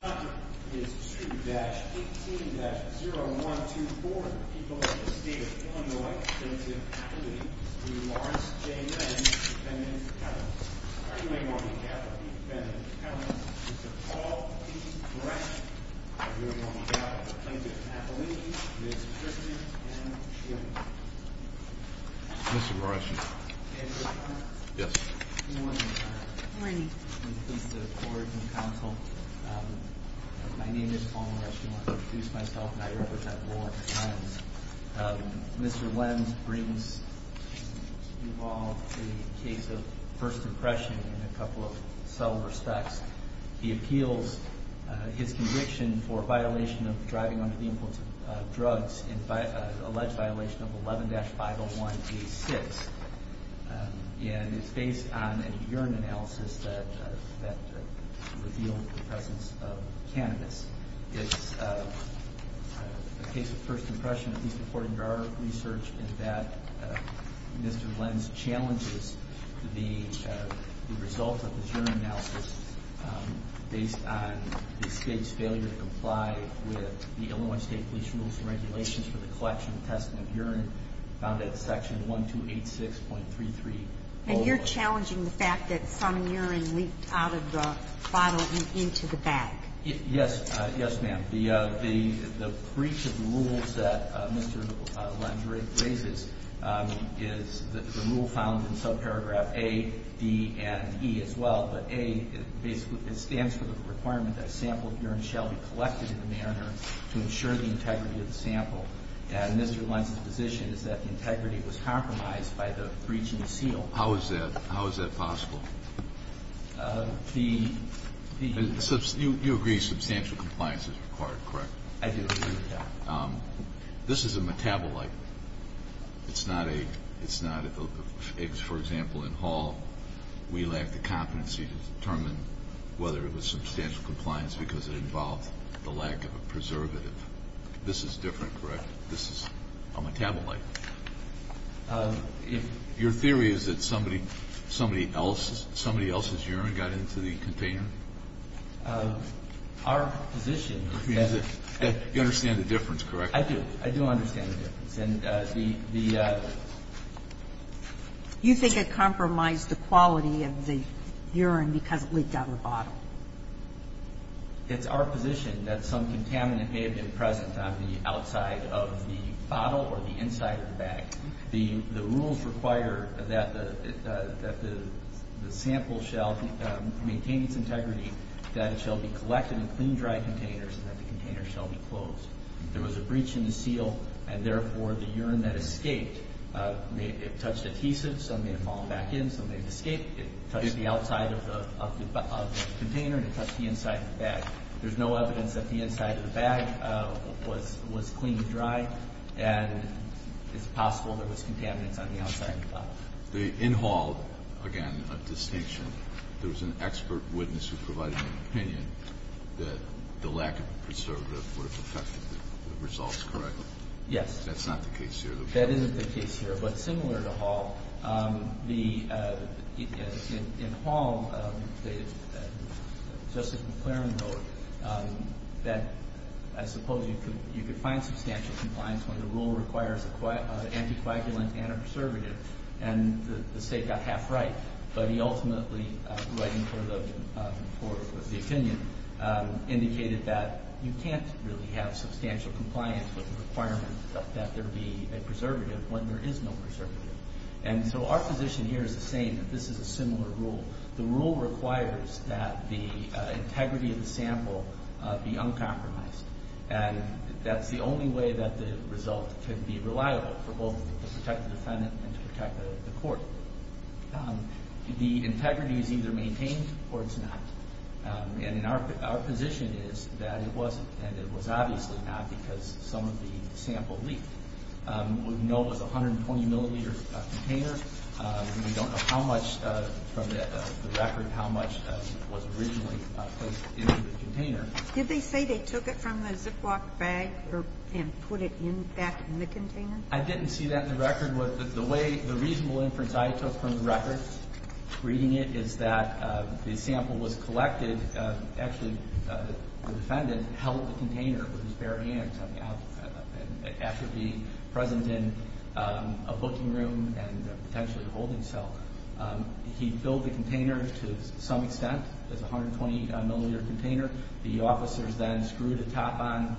The contract is 2-18-0124, the people of the state of Illinois plaintiff appellate, Mr. Lawrence J. Lenz, defendant of Kevin. Arguing on behalf of the defendant of Kevin, Mr. Paul P. Gresham. Arguing on behalf of the plaintiff appellate, Ms. Kristen M. Gill. Mr. Gresham. Yes. Good morning. Good morning. I'm pleased to forward the counsel. My name is Paul M. Gresham. I want to introduce myself and I represent Law and Science. Mr. Lenz brings to you all the case of first impression in a couple of cell respects. He appeals his conviction for violation of driving under the influence of drugs, an alleged violation of 11-501A6. And it's based on a urine analysis that revealed the presence of cannabis. It's a case of first impression, at least according to our research, in that Mr. Lenz challenges the results of his urine analysis based on the state's failure to comply with the Illinois State Police rules and regulations for the collection and testing of urine found at section 1286.33. And you're challenging the fact that some urine leaked out of the bottle and into the bag. Yes. Yes, ma'am. The breach of the rules that Mr. Lenz raises is the rule found in subparagraph A, D, and E as well. But A basically stands for the requirement that a sample of urine shall be collected in the mariner to ensure the integrity of the sample. And Mr. Lenz's position is that the integrity was compromised by the breach in the seal. How is that possible? You agree substantial compliance is required, correct? I do. This is a metabolite. It's not a – it's not a – for example, in Hall, we lacked the competency to determine whether it was substantial compliance because it involved the lack of a preservative. This is different, correct? This is a metabolite. Your theory is that somebody else's urine got into the container? Our position is that – You understand the difference, correct? I do. I do understand the difference. And the – You think it compromised the quality of the urine because it leaked out of the bottle. It's our position that some contaminant may have been present on the outside of the bottle or the inside of the bag. The rules require that the sample shall maintain its integrity, that it shall be collected in clean, dry containers, and that the containers shall be closed. There was a breach in the seal, and therefore, the urine that escaped may have touched adhesive. Some may have fallen back in. Some may have escaped. It touched the outside of the container, and it touched the inside of the bag. There's no evidence that the inside of the bag was clean and dry, and it's possible there was contaminants on the outside of the bottle. In Hall, again, a distinction. There was an expert witness who provided an opinion that the lack of a preservative would have affected the results, correct? Yes. That's not the case here. That isn't the case here. But similar to Hall, in Hall, Justice McClaren wrote that I suppose you could find substantial compliance when the rule requires an anticoagulant and a preservative, and the State got half right. But he ultimately, writing for the opinion, indicated that you can't really have substantial compliance with the requirement that there be a preservative when there is no preservative. And so our position here is the same, that this is a similar rule. The rule requires that the integrity of the sample be uncompromised, and that's the only way that the result can be reliable for both to protect the defendant and to protect the court. The integrity is either maintained or it's not. And our position is that it wasn't, and it was obviously not because some of the sample leaked. We know it was a 120-millimeter container. We don't know how much from the record, how much was originally placed into the container. Did they say they took it from the Ziploc bag and put it back in the container? I didn't see that in the record. The reasonable inference I took from the record, reading it, is that the sample was collected. Actually, the defendant held the container with his bare hands after being present in a booking room and potentially a holding cell. He filled the container to some extent. It was a 120-millimeter container. The officers then screwed the top on,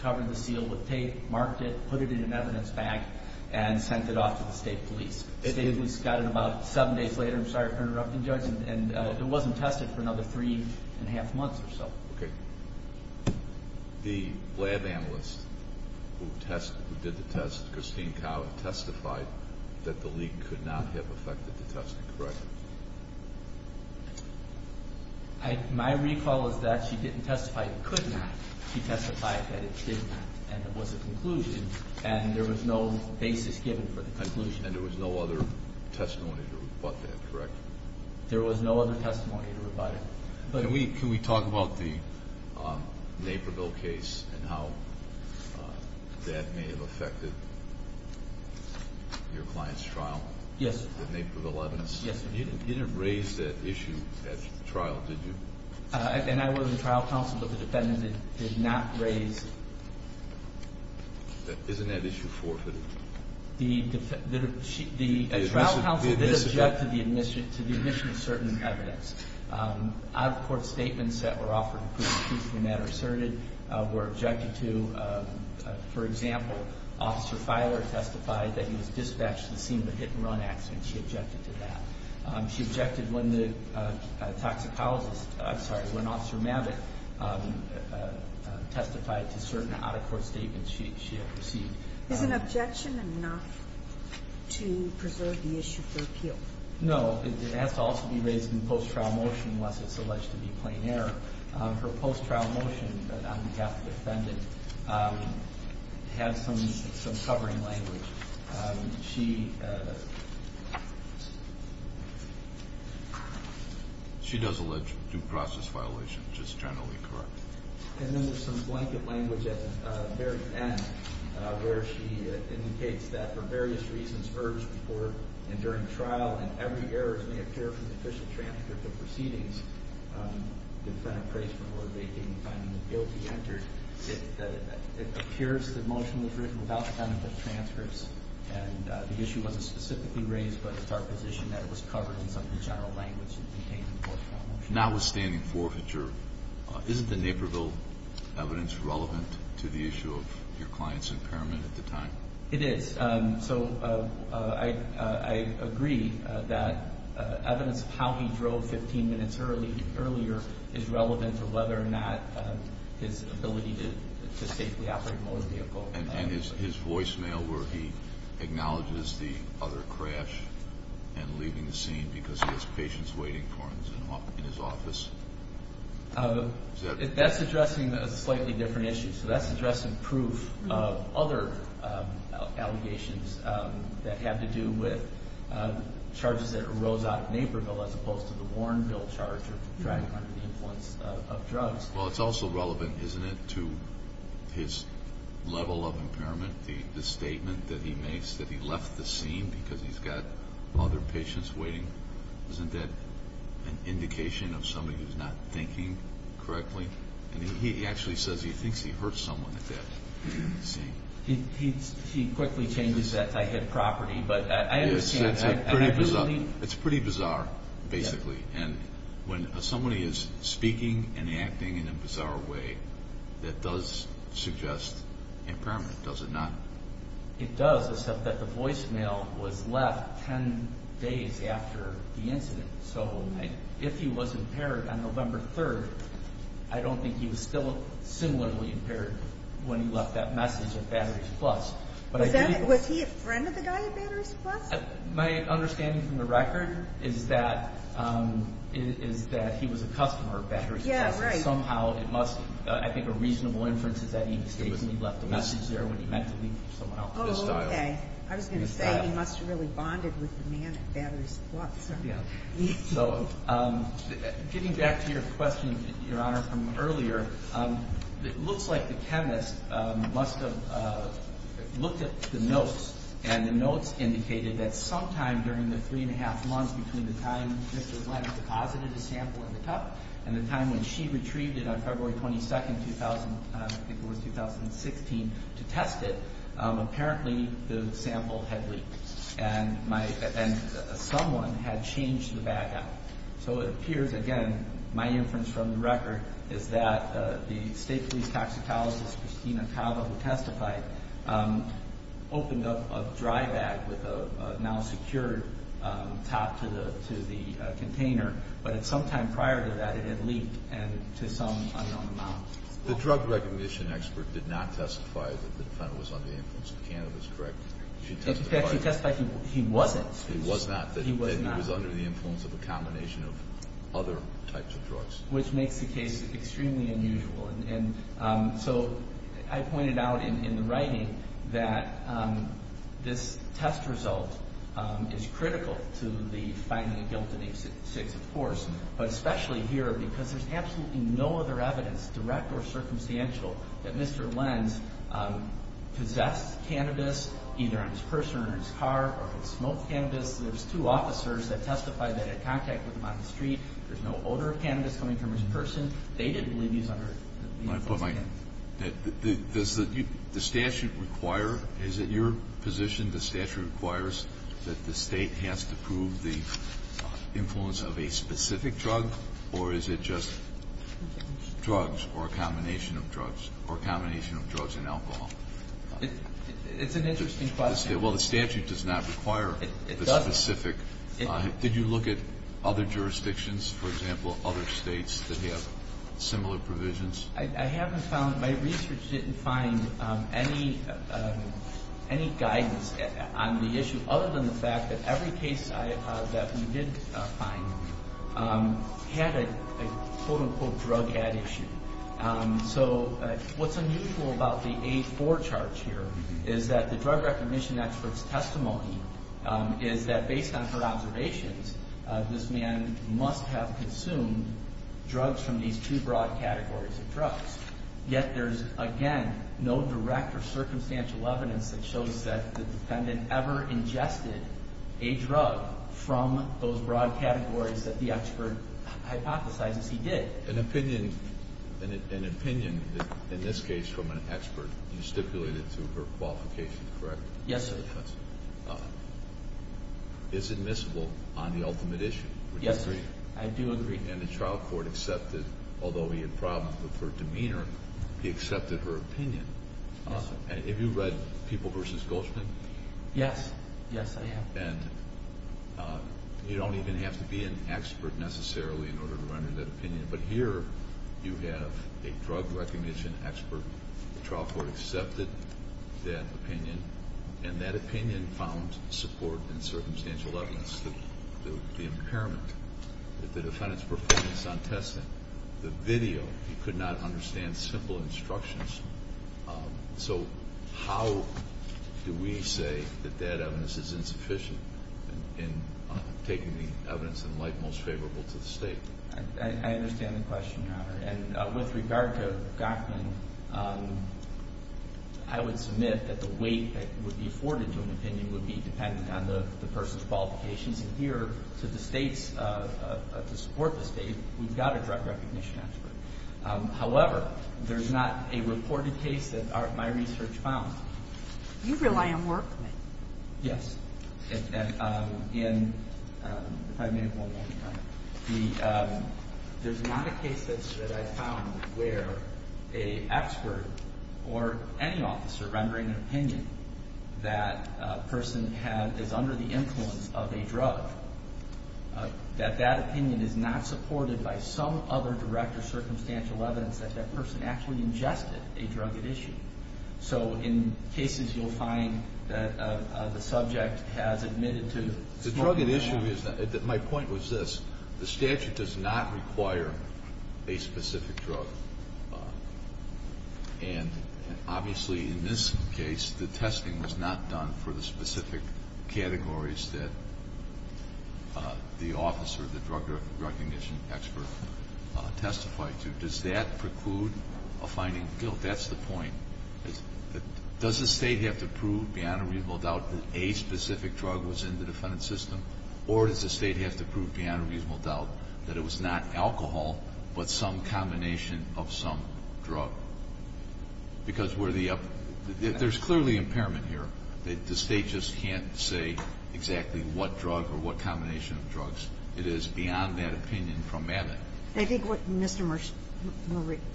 covered the seal with tape, marked it, put it in an evidence bag, and sent it off to the state police. The state police got it about seven days later. I'm sorry for interrupting, Judge, and it wasn't tested for another three and a half months or so. Okay. The lab analyst who did the test, Christine Kau, testified that the leak could not have affected the testing, correct? My recall is that she didn't testify it could not. She testified that it did not, and it was a conclusion, and there was no basis given for the conclusion. And there was no other testimony to rebut that, correct? There was no other testimony to rebut it. Can we talk about the Naperville case and how that may have affected your client's trial? Yes, sir. The Naperville evidence? Yes, sir. You didn't raise that issue at trial, did you? And I was in trial counsel, but the defendant did not raise it. Isn't that issue forfeited? The trial counsel did object to the admission of certain evidence. Out-of-court statements that were offered to prove the truth of the matter asserted were objected to. For example, Officer Filer testified that he was dispatched to the scene of the hit-and-run accident. She objected to that. She objected when the toxicologist, I'm sorry, when Officer Mavick testified to certain out-of-court statements she had received. Is an objection enough to preserve the issue for appeal? No, it has to also be raised in post-trial motion unless it's alleged to be plain error. Her post-trial motion on behalf of the defendant has some covering language. She does allege due process violation, which is generally correct. And then there's some blanket language at the very end where she indicates that for various reasons, and during the trial, and every error may appear from the official transcript of proceedings, the defendant prays before they gain the time and the guilt to be entered. It appears the motion was written without the benefit of transcripts, and the issue wasn't specifically raised, but it's our position that it was covered in some of the general language contained in the post-trial motion. Notwithstanding forfeiture, isn't the Naperville evidence relevant to the issue of your client's impairment at the time? It is. So I agree that evidence of how he drove 15 minutes earlier is relevant to whether or not his ability to safely operate a motor vehicle. And his voicemail where he acknowledges the other crash and leaving the scene because he has patients waiting for him in his office? That's addressing a slightly different issue. So that's addressing proof of other allegations that have to do with charges that arose out of Naperville as opposed to the Warrenville charge of driving under the influence of drugs. Well, it's also relevant, isn't it, to his level of impairment, the statement that he makes that he left the scene because he's got other patients waiting? Isn't that an indication of somebody who's not thinking correctly? And he actually says he thinks he hurt someone at that scene. He quickly changes that to I hit property, but I understand. It's pretty bizarre, basically. And when somebody is speaking and acting in a bizarre way, that does suggest impairment, does it not? It does, except that the voicemail was left 10 days after the incident. So if he was impaired on November 3rd, I don't think he was still similarly impaired when he left that message at Batteries Plus. Was he a friend of the guy at Batteries Plus? My understanding from the record is that he was a customer of Batteries Plus. I think a reasonable inference is that he mistakenly left the message there when he meant to leave for someone else. Oh, okay. I was going to say he must have really bonded with the man at Batteries Plus. So getting back to your question, Your Honor, from earlier, it looks like the chemist must have looked at the notes, and the notes indicated that sometime during the 3 1⁄2 months between the time Mr. Glenn deposited a sample in the cup and the time when she retrieved it on February 22nd, I think it was 2016, to test it, apparently the sample had leaked and someone had changed the bag out. So it appears, again, my inference from the record is that the state police toxicologist, Christina Tava, who testified, opened up a dry bag with a now-secured top to the container, but sometime prior to that it had leaked to some unknown amount. The drug recognition expert did not testify that the defendant was under the influence of cannabis, correct? In fact, she testified he wasn't. He was not. He was not. That he was under the influence of a combination of other types of drugs. Which makes the case extremely unusual. And so I pointed out in the writing that this test result is critical to the finding of guilt in these six, of course, but especially here because there's absolutely no other evidence, direct or circumstantial, that Mr. Glenn possessed cannabis, either on his person or in his car, or had smoked cannabis. There's two officers that testified that had contact with him on the street. There's no odor of cannabis coming from his person. They didn't believe he was under the influence of cannabis. Does the statute require, is it your position the statute requires that the state has to prove the influence of a specific drug, or is it just drugs or a combination of drugs, or a combination of drugs and alcohol? It's an interesting question. Well, the statute does not require the specific. It doesn't. Did you look at other jurisdictions, for example, other states that have similar provisions? I haven't found, my research didn't find any guidance on the issue, other than the fact that every case that we did find had a, quote, unquote, drug addiction. So what's unusual about the A4 charge here is that the drug recognition expert's testimony is that based on her observations, this man must have consumed drugs from these two broad categories of drugs. Yet there's, again, no direct or circumstantial evidence that shows that the defendant ever ingested a drug from those broad categories that the expert hypothesized he did. An opinion, in this case from an expert, you stipulated to her qualification, correct? Yes, sir. Because it's admissible on the ultimate issue, would you agree? Yes, sir. I do agree. And the trial court accepted, although he had problems with her demeanor, he accepted her opinion. Yes, sir. Have you read People v. Goldschmidt? Yes. Yes, I have. And you don't even have to be an expert necessarily in order to render that opinion, but here you have a drug recognition expert, the trial court accepted that opinion, and that opinion found support in circumstantial evidence, the impairment that the defendant's performance on testing, the video, he could not understand simple instructions. So how do we say that that evidence is insufficient in taking the evidence in light most favorable to the State? And with regard to Gochman, I would submit that the weight that would be afforded to an opinion would be dependent on the person's qualifications. And here, to the States, to support the State, we've got a drug recognition expert. However, there's not a reported case that my research found. You rely on work, then. Yes. If I may, one more time. There's not a case that I found where an expert or any officer rendering an opinion that a person is under the influence of a drug, that that opinion is not supported by some other direct or circumstantial evidence that that person actually ingested a drug at issue. So in cases, you'll find that the subject has admitted to smoking marijuana. The drug at issue is that my point was this. The statute does not require a specific drug. And obviously, in this case, the testing was not done for the specific categories that the officer, the drug recognition expert, testified to. Does that preclude a finding of guilt? Well, that's the point. Does the State have to prove, beyond a reasonable doubt, that a specific drug was in the defendant's system? Or does the State have to prove, beyond a reasonable doubt, that it was not alcohol, but some combination of some drug? Because we're the up – there's clearly impairment here. The State just can't say exactly what drug or what combination of drugs it is beyond that opinion from Mavit. I think what Mr.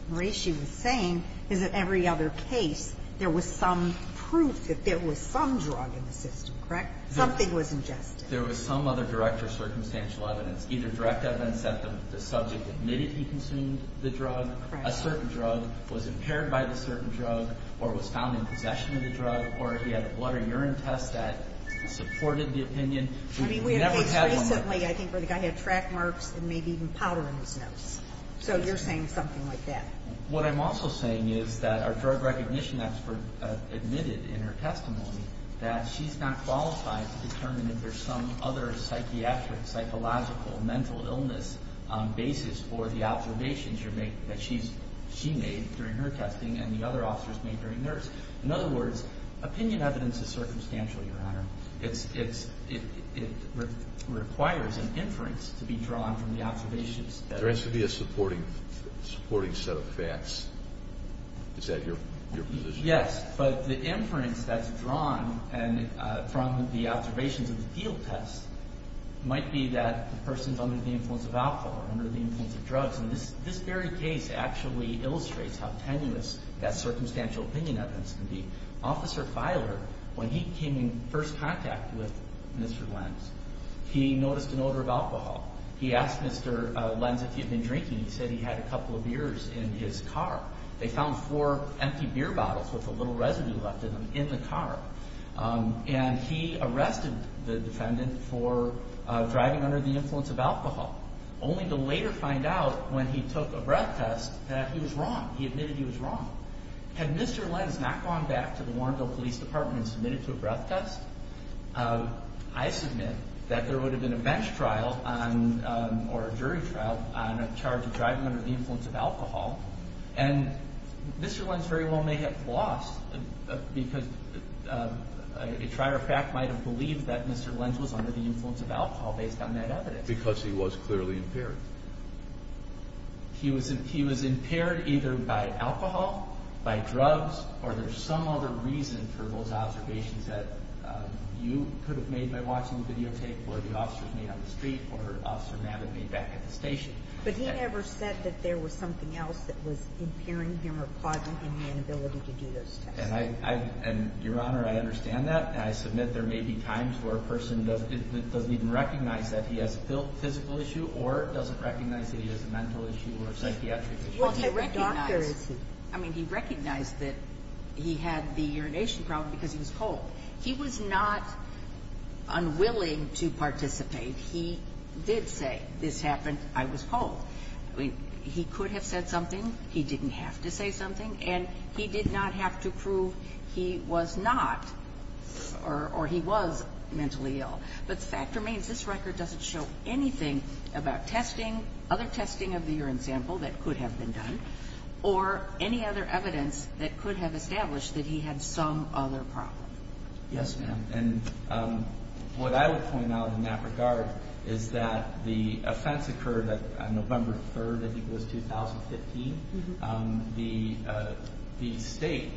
Morishi was saying is that every other case, there was some proof that there was some drug in the system, correct? Something was ingested. There was some other direct or circumstantial evidence. Either direct evidence that the subject admitted he consumed the drug, a certain drug, was impaired by the certain drug, or was found in possession of the drug, or he had a blood or urine test that supported the opinion. I mean, we had a case recently, I think, where the guy had track marks and maybe even powder in his nose. So you're saying something like that. What I'm also saying is that our drug recognition expert admitted in her testimony that she's not qualified to determine if there's some other psychiatric, psychological, mental illness basis for the observations that she made during her testing and the other officers made during theirs. In other words, opinion evidence is circumstantial, Your Honor. It requires an inference to be drawn from the observations. There has to be a supporting set of facts. Is that your position? Yes. But the inference that's drawn from the observations of the field test might be that the person is under the influence of alcohol or under the influence of drugs. And this very case actually illustrates how tenuous that circumstantial opinion evidence can be. Officer Filer, when he came in first contact with Mr. Lenz, he noticed an odor of alcohol. He asked Mr. Lenz if he had been drinking. He said he had a couple of beers in his car. They found four empty beer bottles with a little residue left in them in the car. And he arrested the defendant for driving under the influence of alcohol, only to later find out when he took a breath test that he was wrong. He admitted he was wrong. Had Mr. Lenz not gone back to the Warrenville Police Department and submitted to a breath test, I submit that there would have been a bench trial or a jury trial on a charge of driving under the influence of alcohol. And Mr. Lenz very well may have lost because a tryer of fact might have believed that Mr. Lenz was under the influence of alcohol based on that evidence. Because he was clearly impaired. He was impaired either by alcohol, by drugs, or there's some other reason for those observations that you could have made by watching the videotape where the officers made on the street or Officer Mabin made back at the station. But he never said that there was something else that was impairing him or causing him the inability to do those tests. And Your Honor, I understand that. I submit there may be times where a person doesn't even recognize that he has a physical issue or doesn't recognize that he has a mental issue or a psychiatric issue. I mean, he recognized that he had the urination problem because he was cold. He was not unwilling to participate. He did say, this happened, I was cold. He could have said something. He didn't have to say something. And he did not have to prove he was not or he was mentally ill. But the fact remains, this record doesn't show anything about testing, other testing of the urine sample that could have been done, or any other evidence that could have established that he had some other problem. Yes, ma'am. And what I would point out in that regard is that the offense occurred on November 3rd, I think it was, 2015. The state,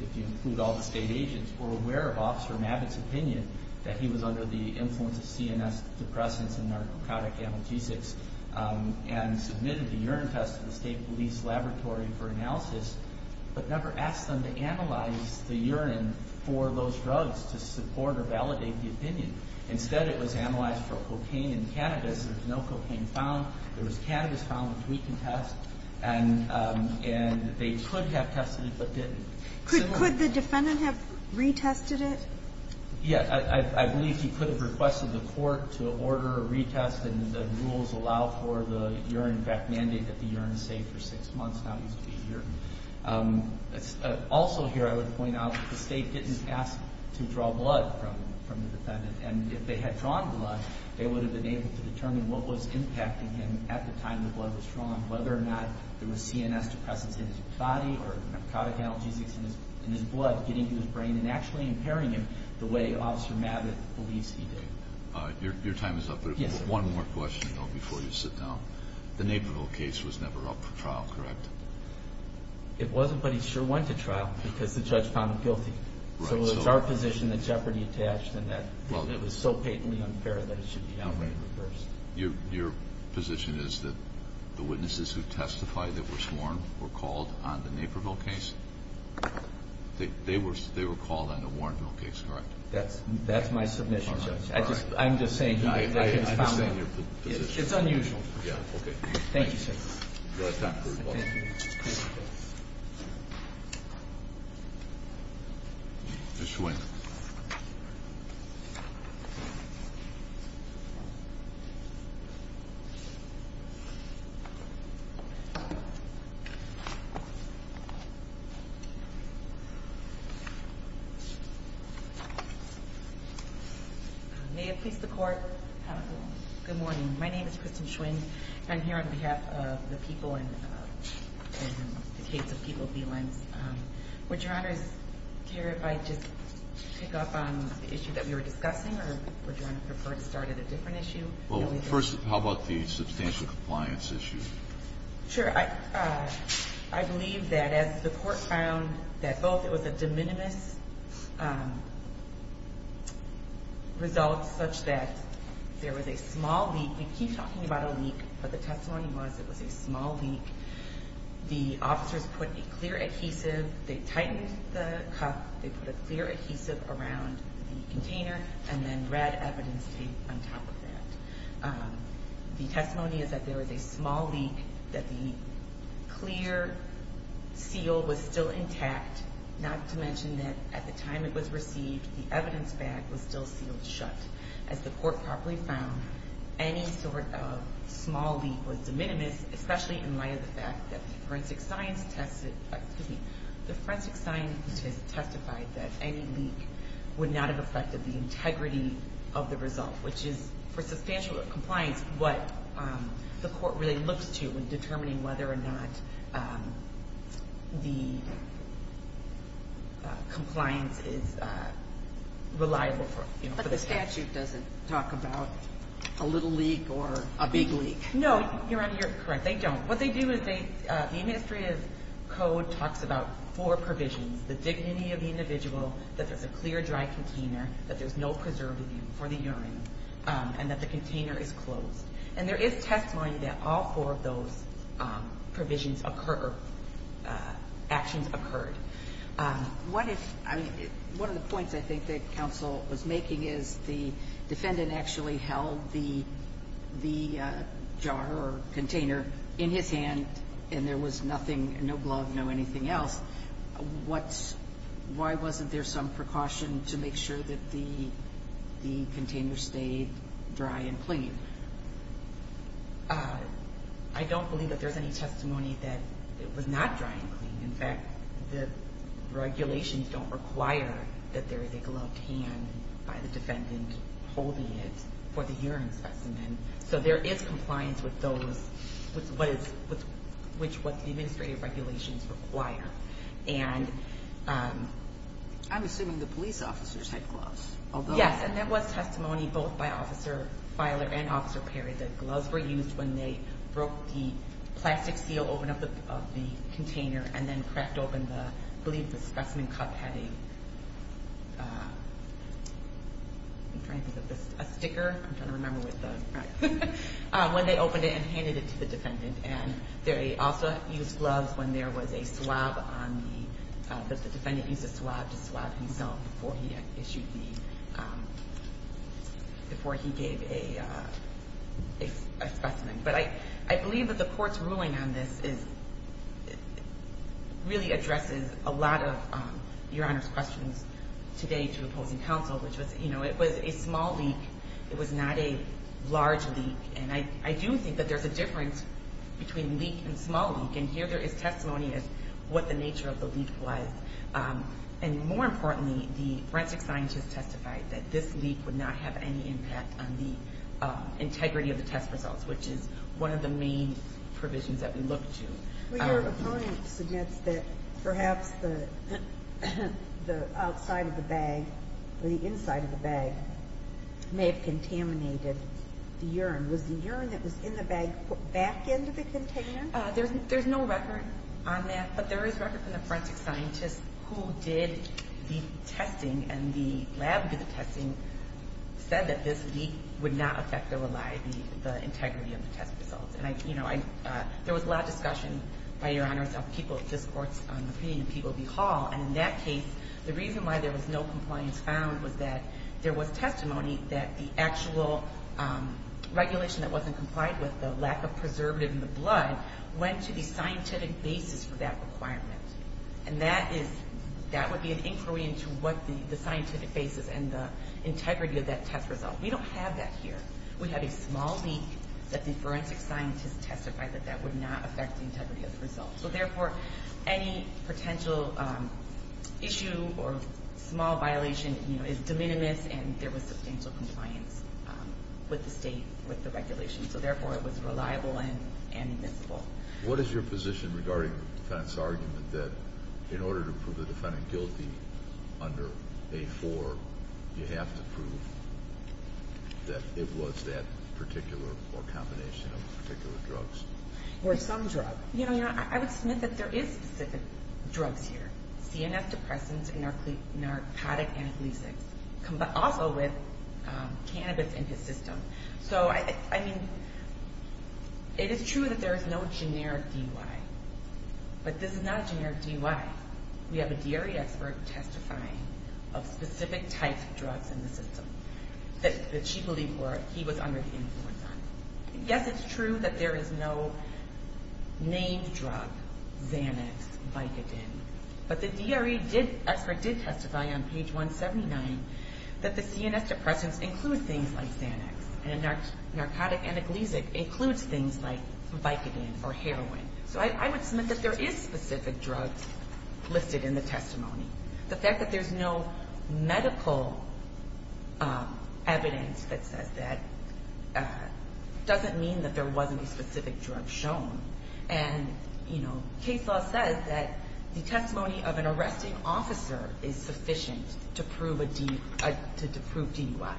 if you include all the state agents, were aware of Officer Mabbitt's opinion that he was under the influence of CNS depressants and narcotic analgesics and submitted the urine test to the state police laboratory for analysis, but never asked them to analyze the urine for those drugs to support or validate the opinion. Instead, it was analyzed for cocaine and cannabis. There was no cocaine found. There was cannabis found, which we can test. And they could have tested it but didn't. Could the defendant have retested it? Yes. I believe he could have requested the court to order a retest, and the rules allow for the urine fact mandate that the urine is safe for six months. Now he's to be here. Also here, I would point out that the state didn't ask to draw blood from the defendant. And if they had drawn blood, they would have been able to determine what was impacting him at the time the blood was drawn, whether or not there was CNS depressants in his body or narcotic analgesics in his blood getting to his brain and actually impairing him the way Officer Mabbitt believes he did. Your time is up, but one more question, though, before you sit down. The Naperville case was never up for trial, correct? It wasn't, but he sure went to trial because the judge found him guilty. So it's our position that jeopardy attached and that it was so patently unfair that it should be downgraded first. Your position is that the witnesses who testified that were sworn were called on the Naperville case? They were called on the Warrenville case, correct? That's my submission, Judge. I'm just saying that he was found guilty. I understand your position. It's unusual. Okay. Thank you, sir. Your time has expired. Thank you. Ms. Schwinn. May it please the Court, good morning. My name is Kristen Schwinn. I'm here on behalf of the people in the case of people B-lines. Would Your Honor's care if I just pick up on the issue that we were discussing or would Your Honor prefer to start at a different issue? Well, first, how about the substantial compliance issue? Sure. I believe that as the Court found that both it was a de minimis result such that there was a small leak. We keep talking about a leak, but the testimony was it was a small leak. The officers put a clear adhesive. They tightened the cup. They put a clear adhesive around the container and then red evidence tape on top of that. The testimony is that there was a small leak, that the clear seal was still intact, not to mention that at the time it was received, the evidence bag was still sealed shut. As the Court properly found, any sort of small leak was de minimis, especially in light of the fact that the forensic scientists testified that any leak would not have affected the integrity of the result, which is for substantial compliance, what the Court really looks to in determining whether or not the compliance is reliable for the statute. The statute doesn't talk about a little leak or a big leak. No, Your Honor, you're correct. They don't. What they do is the Administrative Code talks about four provisions, the dignity of the individual, that there's a clear, dry container, that there's no preservative for the urine, and that the container is closed. And there is testimony that all four of those provisions occur, actions occurred. One of the points I think that counsel was making is the defendant actually held the jar or container in his hand and there was nothing, no glove, no anything else. Why wasn't there some precaution to make sure that the container stayed dry and clean? I don't believe that there's any testimony that it was not dry and clean. In fact, the regulations don't require that there is a gloved hand by the defendant holding it for the urine specimen. So there is compliance with those, with what the administrative regulations require. And I'm assuming the police officers had gloves. Yes, and there was testimony both by Officer Filer and Officer Perry that gloves were used when they broke the plastic seal to open up the container and then cracked open the, I believe the specimen cup had a, I'm trying to think of this, a sticker, I'm trying to remember what the, when they opened it and handed it to the defendant. And they also used gloves when there was a swab on the, the defendant used a swab to swab himself before he issued the, before he gave a specimen. But I believe that the court's ruling on this is, really addresses a lot of Your Honor's questions today to opposing counsel, which was, you know, it was a small leak. It was not a large leak. And I do think that there's a difference between leak and small leak. And here there is testimony as to what the nature of the leak was. And more importantly, the forensic scientist testified that this leak would not have any impact on the integrity of the test results, which is one of the main provisions that we look to. Your opponent suggests that perhaps the outside of the bag, or the inside of the bag, may have contaminated the urine. Was the urine that was in the bag put back into the container? There's, there's no record on that. But there is record from the forensic scientist who did the testing, and the lab did the testing, said that this leak would not affect the reliability, the integrity of the test results. And I, you know, I, there was a lot of discussion, by Your Honors, of people, this court's opinion, of people at the hall. And in that case, the reason why there was no compliance found was that there was testimony that the actual regulation that wasn't complied with, the lack of preservative in the blood, went to the scientific basis for that requirement. And that is, that would be an inquiry into what the scientific basis and the integrity of that test result. We don't have that here. We have a small leak that the forensic scientist testified that that would not affect the integrity of the results. So therefore, any potential issue or small violation, you know, is de minimis, and there was substantial compliance with the state, with the regulation. So therefore, it was reliable and admissible. What is your position regarding the defendant's argument that in order to prove the defendant guilty under A-4, you have to prove that it was that particular or combination of particular drugs? Or some drug. You know, I would submit that there is specific drugs here. CNS depressants and narcotic analgesics, also with cannabis in his system. So, I mean, it is true that there is no generic DUI, but this is not a generic DUI. We have a DRE expert testifying of specific types of drugs in the system that she believed he was under the influence on. Yes, it's true that there is no named drug, Xanax, Vicodin. But the DRE expert did testify on page 179 that the CNS depressants include things like Xanax, and a narcotic analgesic includes things like Vicodin or heroin. So I would submit that there is specific drugs listed in the testimony. The fact that there is no medical evidence that says that doesn't mean that there wasn't a specific drug shown. And, you know, case law says that the testimony of an arresting officer is sufficient to prove DUI.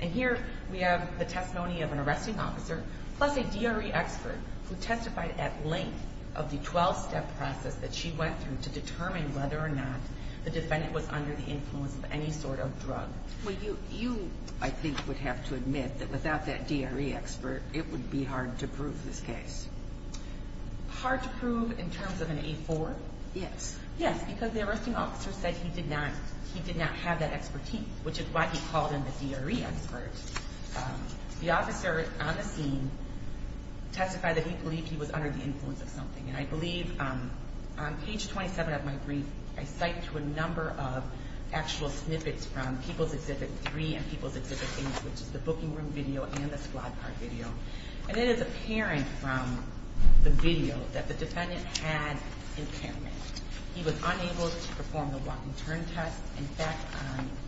And here we have the testimony of an arresting officer plus a DRE expert who testified at length of the 12-step process that she went through to determine whether or not the defendant was under the influence of any sort of drug. Well, you, I think, would have to admit that without that DRE expert, it would be hard to prove this case. Hard to prove in terms of an A4? Yes. Yes, because the arresting officer said he did not have that expertise, which is why he called in the DRE expert. The officer on the scene testified that he believed he was under the influence of something. And I believe on page 27 of my brief, I cite to a number of actual snippets from People's Exhibit 3 and People's Exhibit 8, which is the booking room video and the squad card video. And it is apparent from the video that the defendant had impairment. He was unable to perform the walk and turn test. In fact,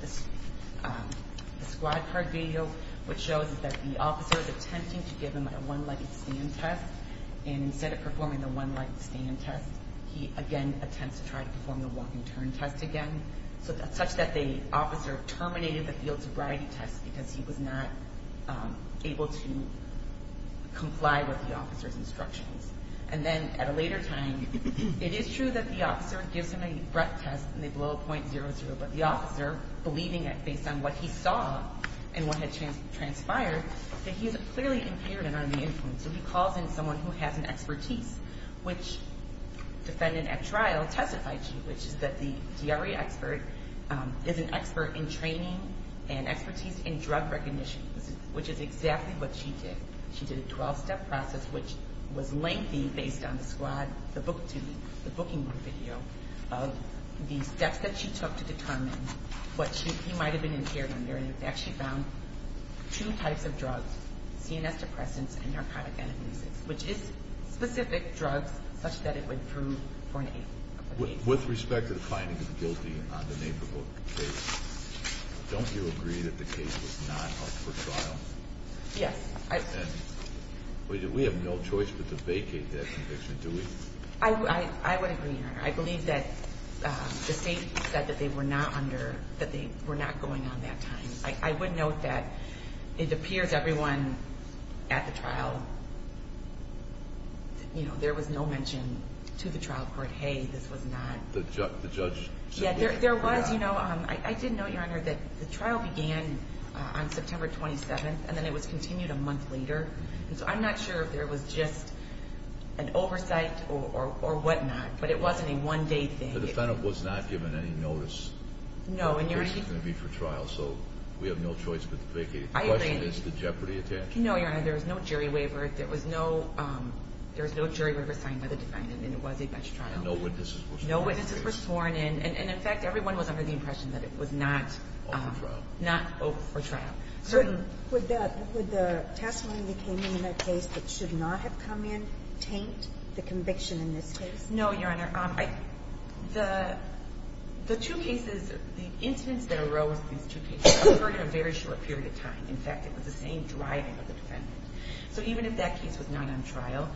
the squad card video, what shows is that the officer is attempting to give him a one-legged stand test. And instead of performing the one-legged stand test, he again attempts to try to perform the walk and turn test again, such that the officer terminated the field sobriety test because he was not able to comply with the officer's instructions. And then at a later time, it is true that the officer gives him a breath test, and they blow a .00, but the officer, believing it based on what he saw and what had transpired, that he is clearly impaired and under the influence. So he calls in someone who has an expertise, which defendant at trial testified to, which is that the DRE expert is an expert in training and expertise in drug recognition, which is exactly what she did. She did a 12-step process, which was lengthy based on the squad, the booking room video, of the steps that she took to determine what he might have been impaired under. And in fact, she found two types of drugs, CNS depressants and narcotic analgesics, which is specific drugs such that it would prove for an aid. With respect to the finding of the guilty on the Naperville case, don't you agree that the case was not up for trial? Yes. And we have no choice but to vacate that conviction, do we? I would agree, Your Honor. I believe that the State said that they were not under, that they were not going on that time. I would note that it appears everyone at the trial, you know, there was no mention to the trial court, hey, this was not. The judge? Yeah, there was, you know. I did note, Your Honor, that the trial began on September 27th, and then it was continued a month later. And so I'm not sure if there was just an oversight or whatnot, but it wasn't a one-day thing. The defendant was not given any notice that this was going to be for trial, so we have no choice but to vacate it. The question is, did Jeopardy attach? No, Your Honor. There was no jury waiver. There was no jury waiver signed by the defendant, and it was a bench trial. No witnesses were sworn in. No witnesses were sworn in. And in fact, everyone was under the impression that it was not for trial. Would the testimony that came in in that case that should not have come in taint the conviction in this case? No, Your Honor. The two cases, the incidents that arose in these two cases occurred in a very short period of time. In fact, it was the same driving of the defendant. So even if that case was not on trial,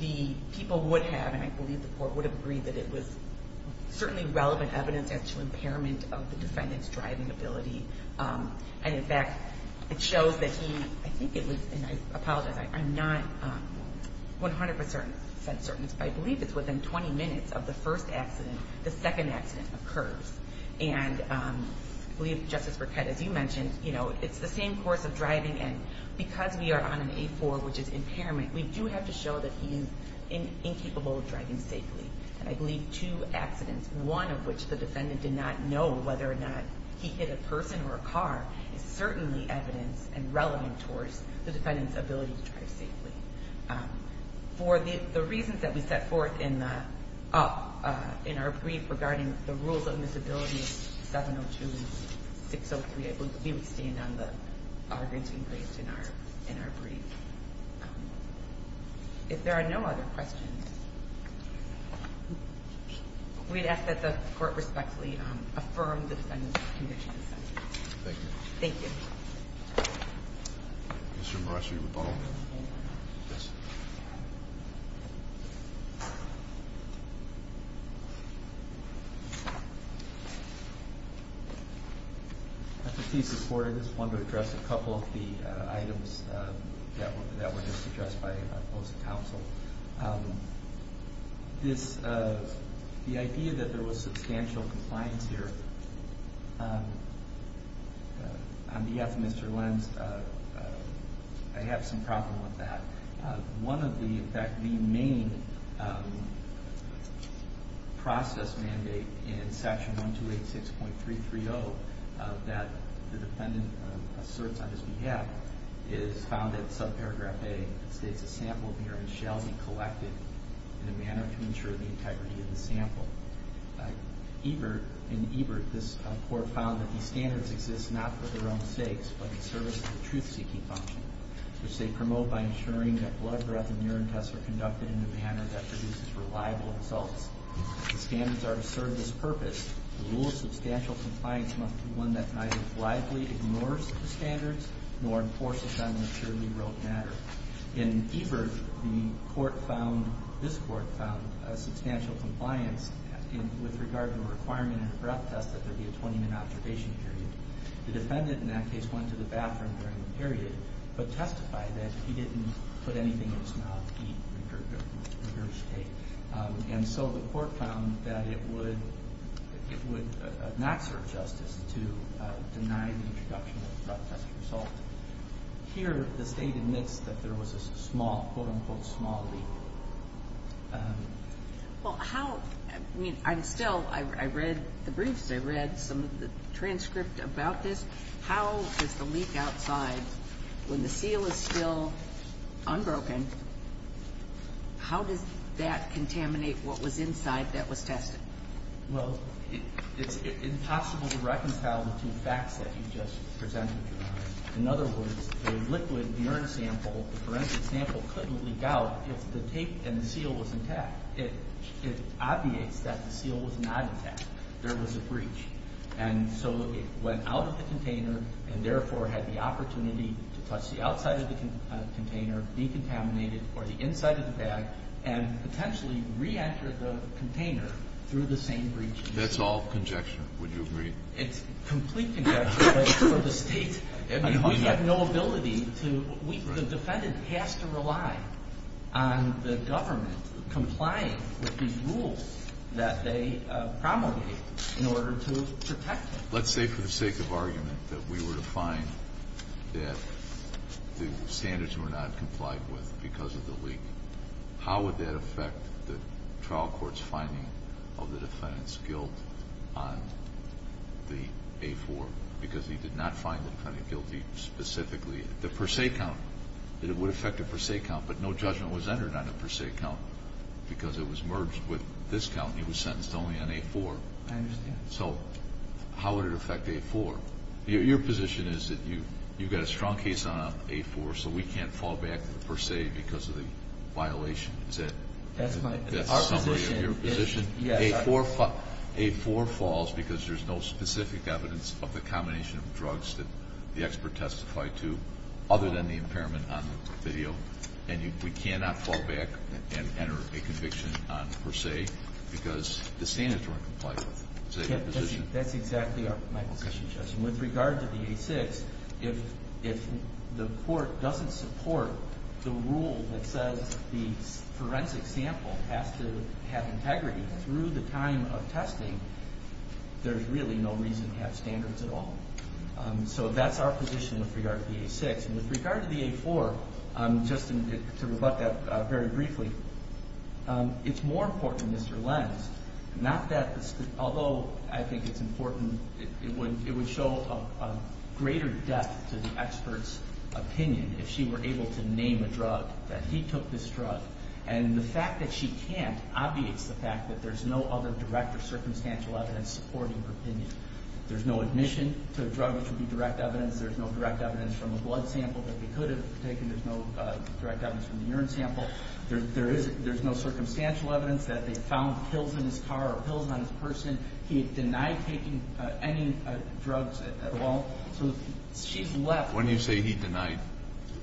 the people would have, and I believe the court would have agreed that it was certainly relevant evidence as to impairment of the defendant's driving ability. And in fact, it shows that he, I think it was, and I apologize, I'm not 100% certain. I believe it's within 20 minutes of the first accident, the second accident occurs. And I believe Justice Burkett, as you mentioned, you know, it's the same course of driving, and because we are on an A4, which is impairment, we do have to show that he is incapable of driving safely. And I believe two accidents, one of which the defendant did not know whether or not he hit a person or a car, is certainly evidence and relevant towards the defendant's ability to drive safely. For the reasons that we set forth in our brief regarding the rules of admissibility, 702 and 603, I believe we would stand on the arguments we raised in our brief. If there are no other questions, we'd ask that the court respectfully affirm the defendant's condition. Thank you. Thank you. Mr. Marucci, would you follow me? Yes. Thank you very much. I think he's supported this. I want to address a couple of the items that were just addressed by the opposing counsel. This, the idea that there was substantial compliance here, on behalf of Mr. Lenz, I have some problem with that. One of the, in fact, the main process mandate in section 1286.330 that the defendant asserts on his behalf is found in subparagraph A. It states, a sample here shall be collected in a manner to ensure the integrity of the sample. Ebert, in Ebert, this court found that these standards exist not for their own sakes, but in service of the truth-seeking function, which they promote by ensuring that blood, breath, and urine tests are conducted in a manner that produces reliable results. The standards are to serve this purpose. The rule of substantial compliance must be one that neither blithely ignores the standards nor enforces them in a purely rote matter. In Ebert, the court found, this court found, a substantial compliance with regard to a requirement in a breath test that there be a 20-minute observation period. The defendant, in that case, went to the bathroom during the period, but testified that he didn't put anything in his mouth, eat, drink, or take. And so the court found that it would not serve justice to deny the introduction of a breath test result. Here, the State admits that there was a small, quote-unquote, small leak. Well, how, I mean, I'm still, I read the briefs, I read some of the transcript about this. How does the leak outside, when the seal is still unbroken, how does that contaminate what was inside that was tested? Well, it's impossible to reconcile the two facts that you just presented, Your Honor. In other words, the liquid urine sample, the forensic sample, couldn't leak out if the tape and the seal was intact. It obviates that the seal was not intact. There was a breach. And so it went out of the container and, therefore, had the opportunity to touch the outside of the container, decontaminate it, or the inside of the bag, and potentially re-enter the container through the same breach. That's all conjecture, would you agree? It's complete conjecture, but for the State, we have no ability to, the defendant has to rely on the government complying with these rules that they promulgated in order to protect him. Let's say, for the sake of argument, that we were to find that the standards were not complied with because of the leak. How would that affect the trial court's finding of the defendant's guilt on the A-4? Because he did not find the defendant guilty specifically. The per se count, it would affect the per se count, but no judgment was entered on the per se count because it was merged with this count, and he was sentenced only on A-4. I understand. So how would it affect A-4? Your position is that you've got a strong case on A-4, so we can't fall back to the per se because of the violation. Is that the summary of your position? A-4 falls because there's no specific evidence of the combination of drugs that the expert testified to other than the impairment on the video, and we cannot fall back and enter a conviction on per se because the standards weren't complied with. Is that your position? With regard to the A-6, if the court doesn't support the rule that says the forensic sample has to have integrity through the time of testing, there's really no reason to have standards at all. So that's our position with regard to the A-6. And with regard to the A-4, just to rebut that very briefly, it's more important, Mr. Lenz, not that, although I think it's important, it would show a greater depth to the expert's opinion if she were able to name a drug, that he took this drug, and the fact that she can't obviates the fact that there's no other direct or circumstantial evidence supporting her opinion. There's no admission to a drug which would be direct evidence. There's no direct evidence from a blood sample that they could have taken. There's no direct evidence from the urine sample. There's no circumstantial evidence that they found pills in his car or pills on his person. He denied taking any drugs at all. So she's left. When you say he denied,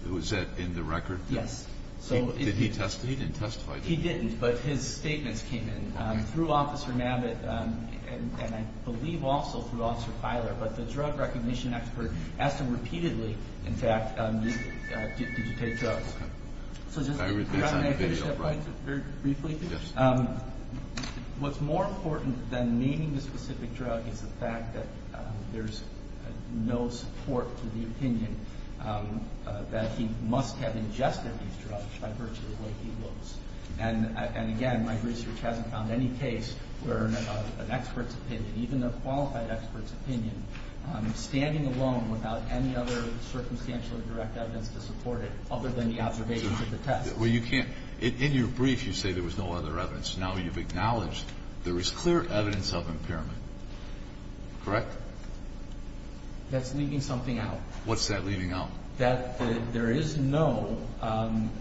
was that in the record? Yes. Did he testify? He didn't testify. He didn't, but his statements came in through Officer Mabbitt and I believe also through Officer Filer. But the drug recognition expert asked him repeatedly, in fact, did you take drugs? Can I finish up very briefly? Yes. What's more important than naming a specific drug is the fact that there's no support for the opinion that he must have ingested these drugs by virtue of the way he looks. And, again, my research hasn't found any case where an expert's opinion, even a qualified expert's opinion, standing alone without any other circumstantial or direct evidence to support it other than the observations of the test. Well, you can't – in your brief you say there was no other evidence. Now you've acknowledged there is clear evidence of impairment, correct? That's leaving something out. What's that leaving out? That there is no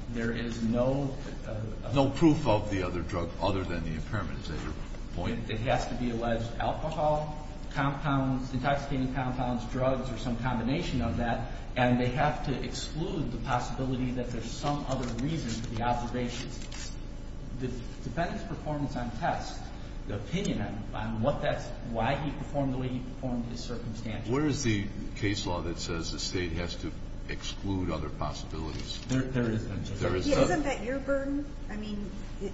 – there is no – No proof of the other drug other than the impairment, is that your point? It has to be alleged alcohol compounds, intoxicating compounds, drugs, or some combination of that, and they have to exclude the possibility that there's some other reason for the observations. The defendant's performance on tests, the opinion on what that's – why he performed the way he performed, his circumstances. Where is the case law that says the State has to exclude other possibilities? There is no such thing. Isn't that your burden? I mean,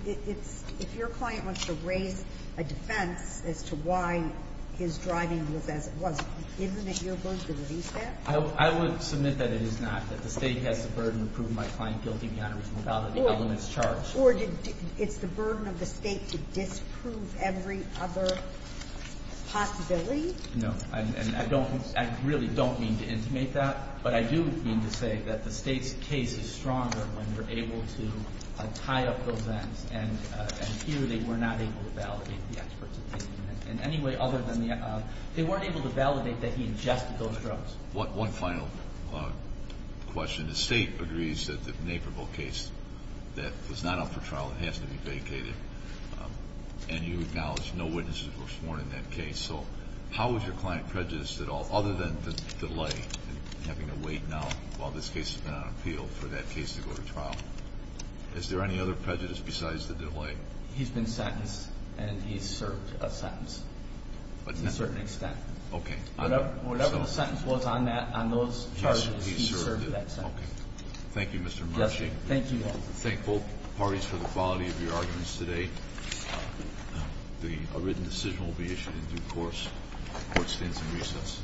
it's – if your client wants to raise a defense as to why his driving was as it was, isn't it your burden to release that? I would submit that it is not, that the State has the burden to prove my client guilty beyond reasonable doubt of the evidence charged. Or did – it's the burden of the State to disprove every other possibility? No. And I don't – I really don't mean to intimate that. But I do mean to say that the State's case is stronger when we're able to tie up those ends, and here they were not able to validate the experts' opinion in any way other than the – they weren't able to validate that he ingested those drugs. One final question. The State agrees that the Naperville case that was not up for trial has to be vacated, and you acknowledged no witnesses were sworn in that case. So how is your client prejudiced at all, other than the delay in having to wait now while this case has been on appeal for that case to go to trial? Is there any other prejudice besides the delay? He's been sentenced, and he's served a sentence to a certain extent. Okay. Whatever the sentence was on that, on those charges, he served that sentence. Okay. Thank you, Mr. Marsh. Thank you. Thank both parties for the quality of your arguments today. A written decision will be issued in due course. Court stands in recess.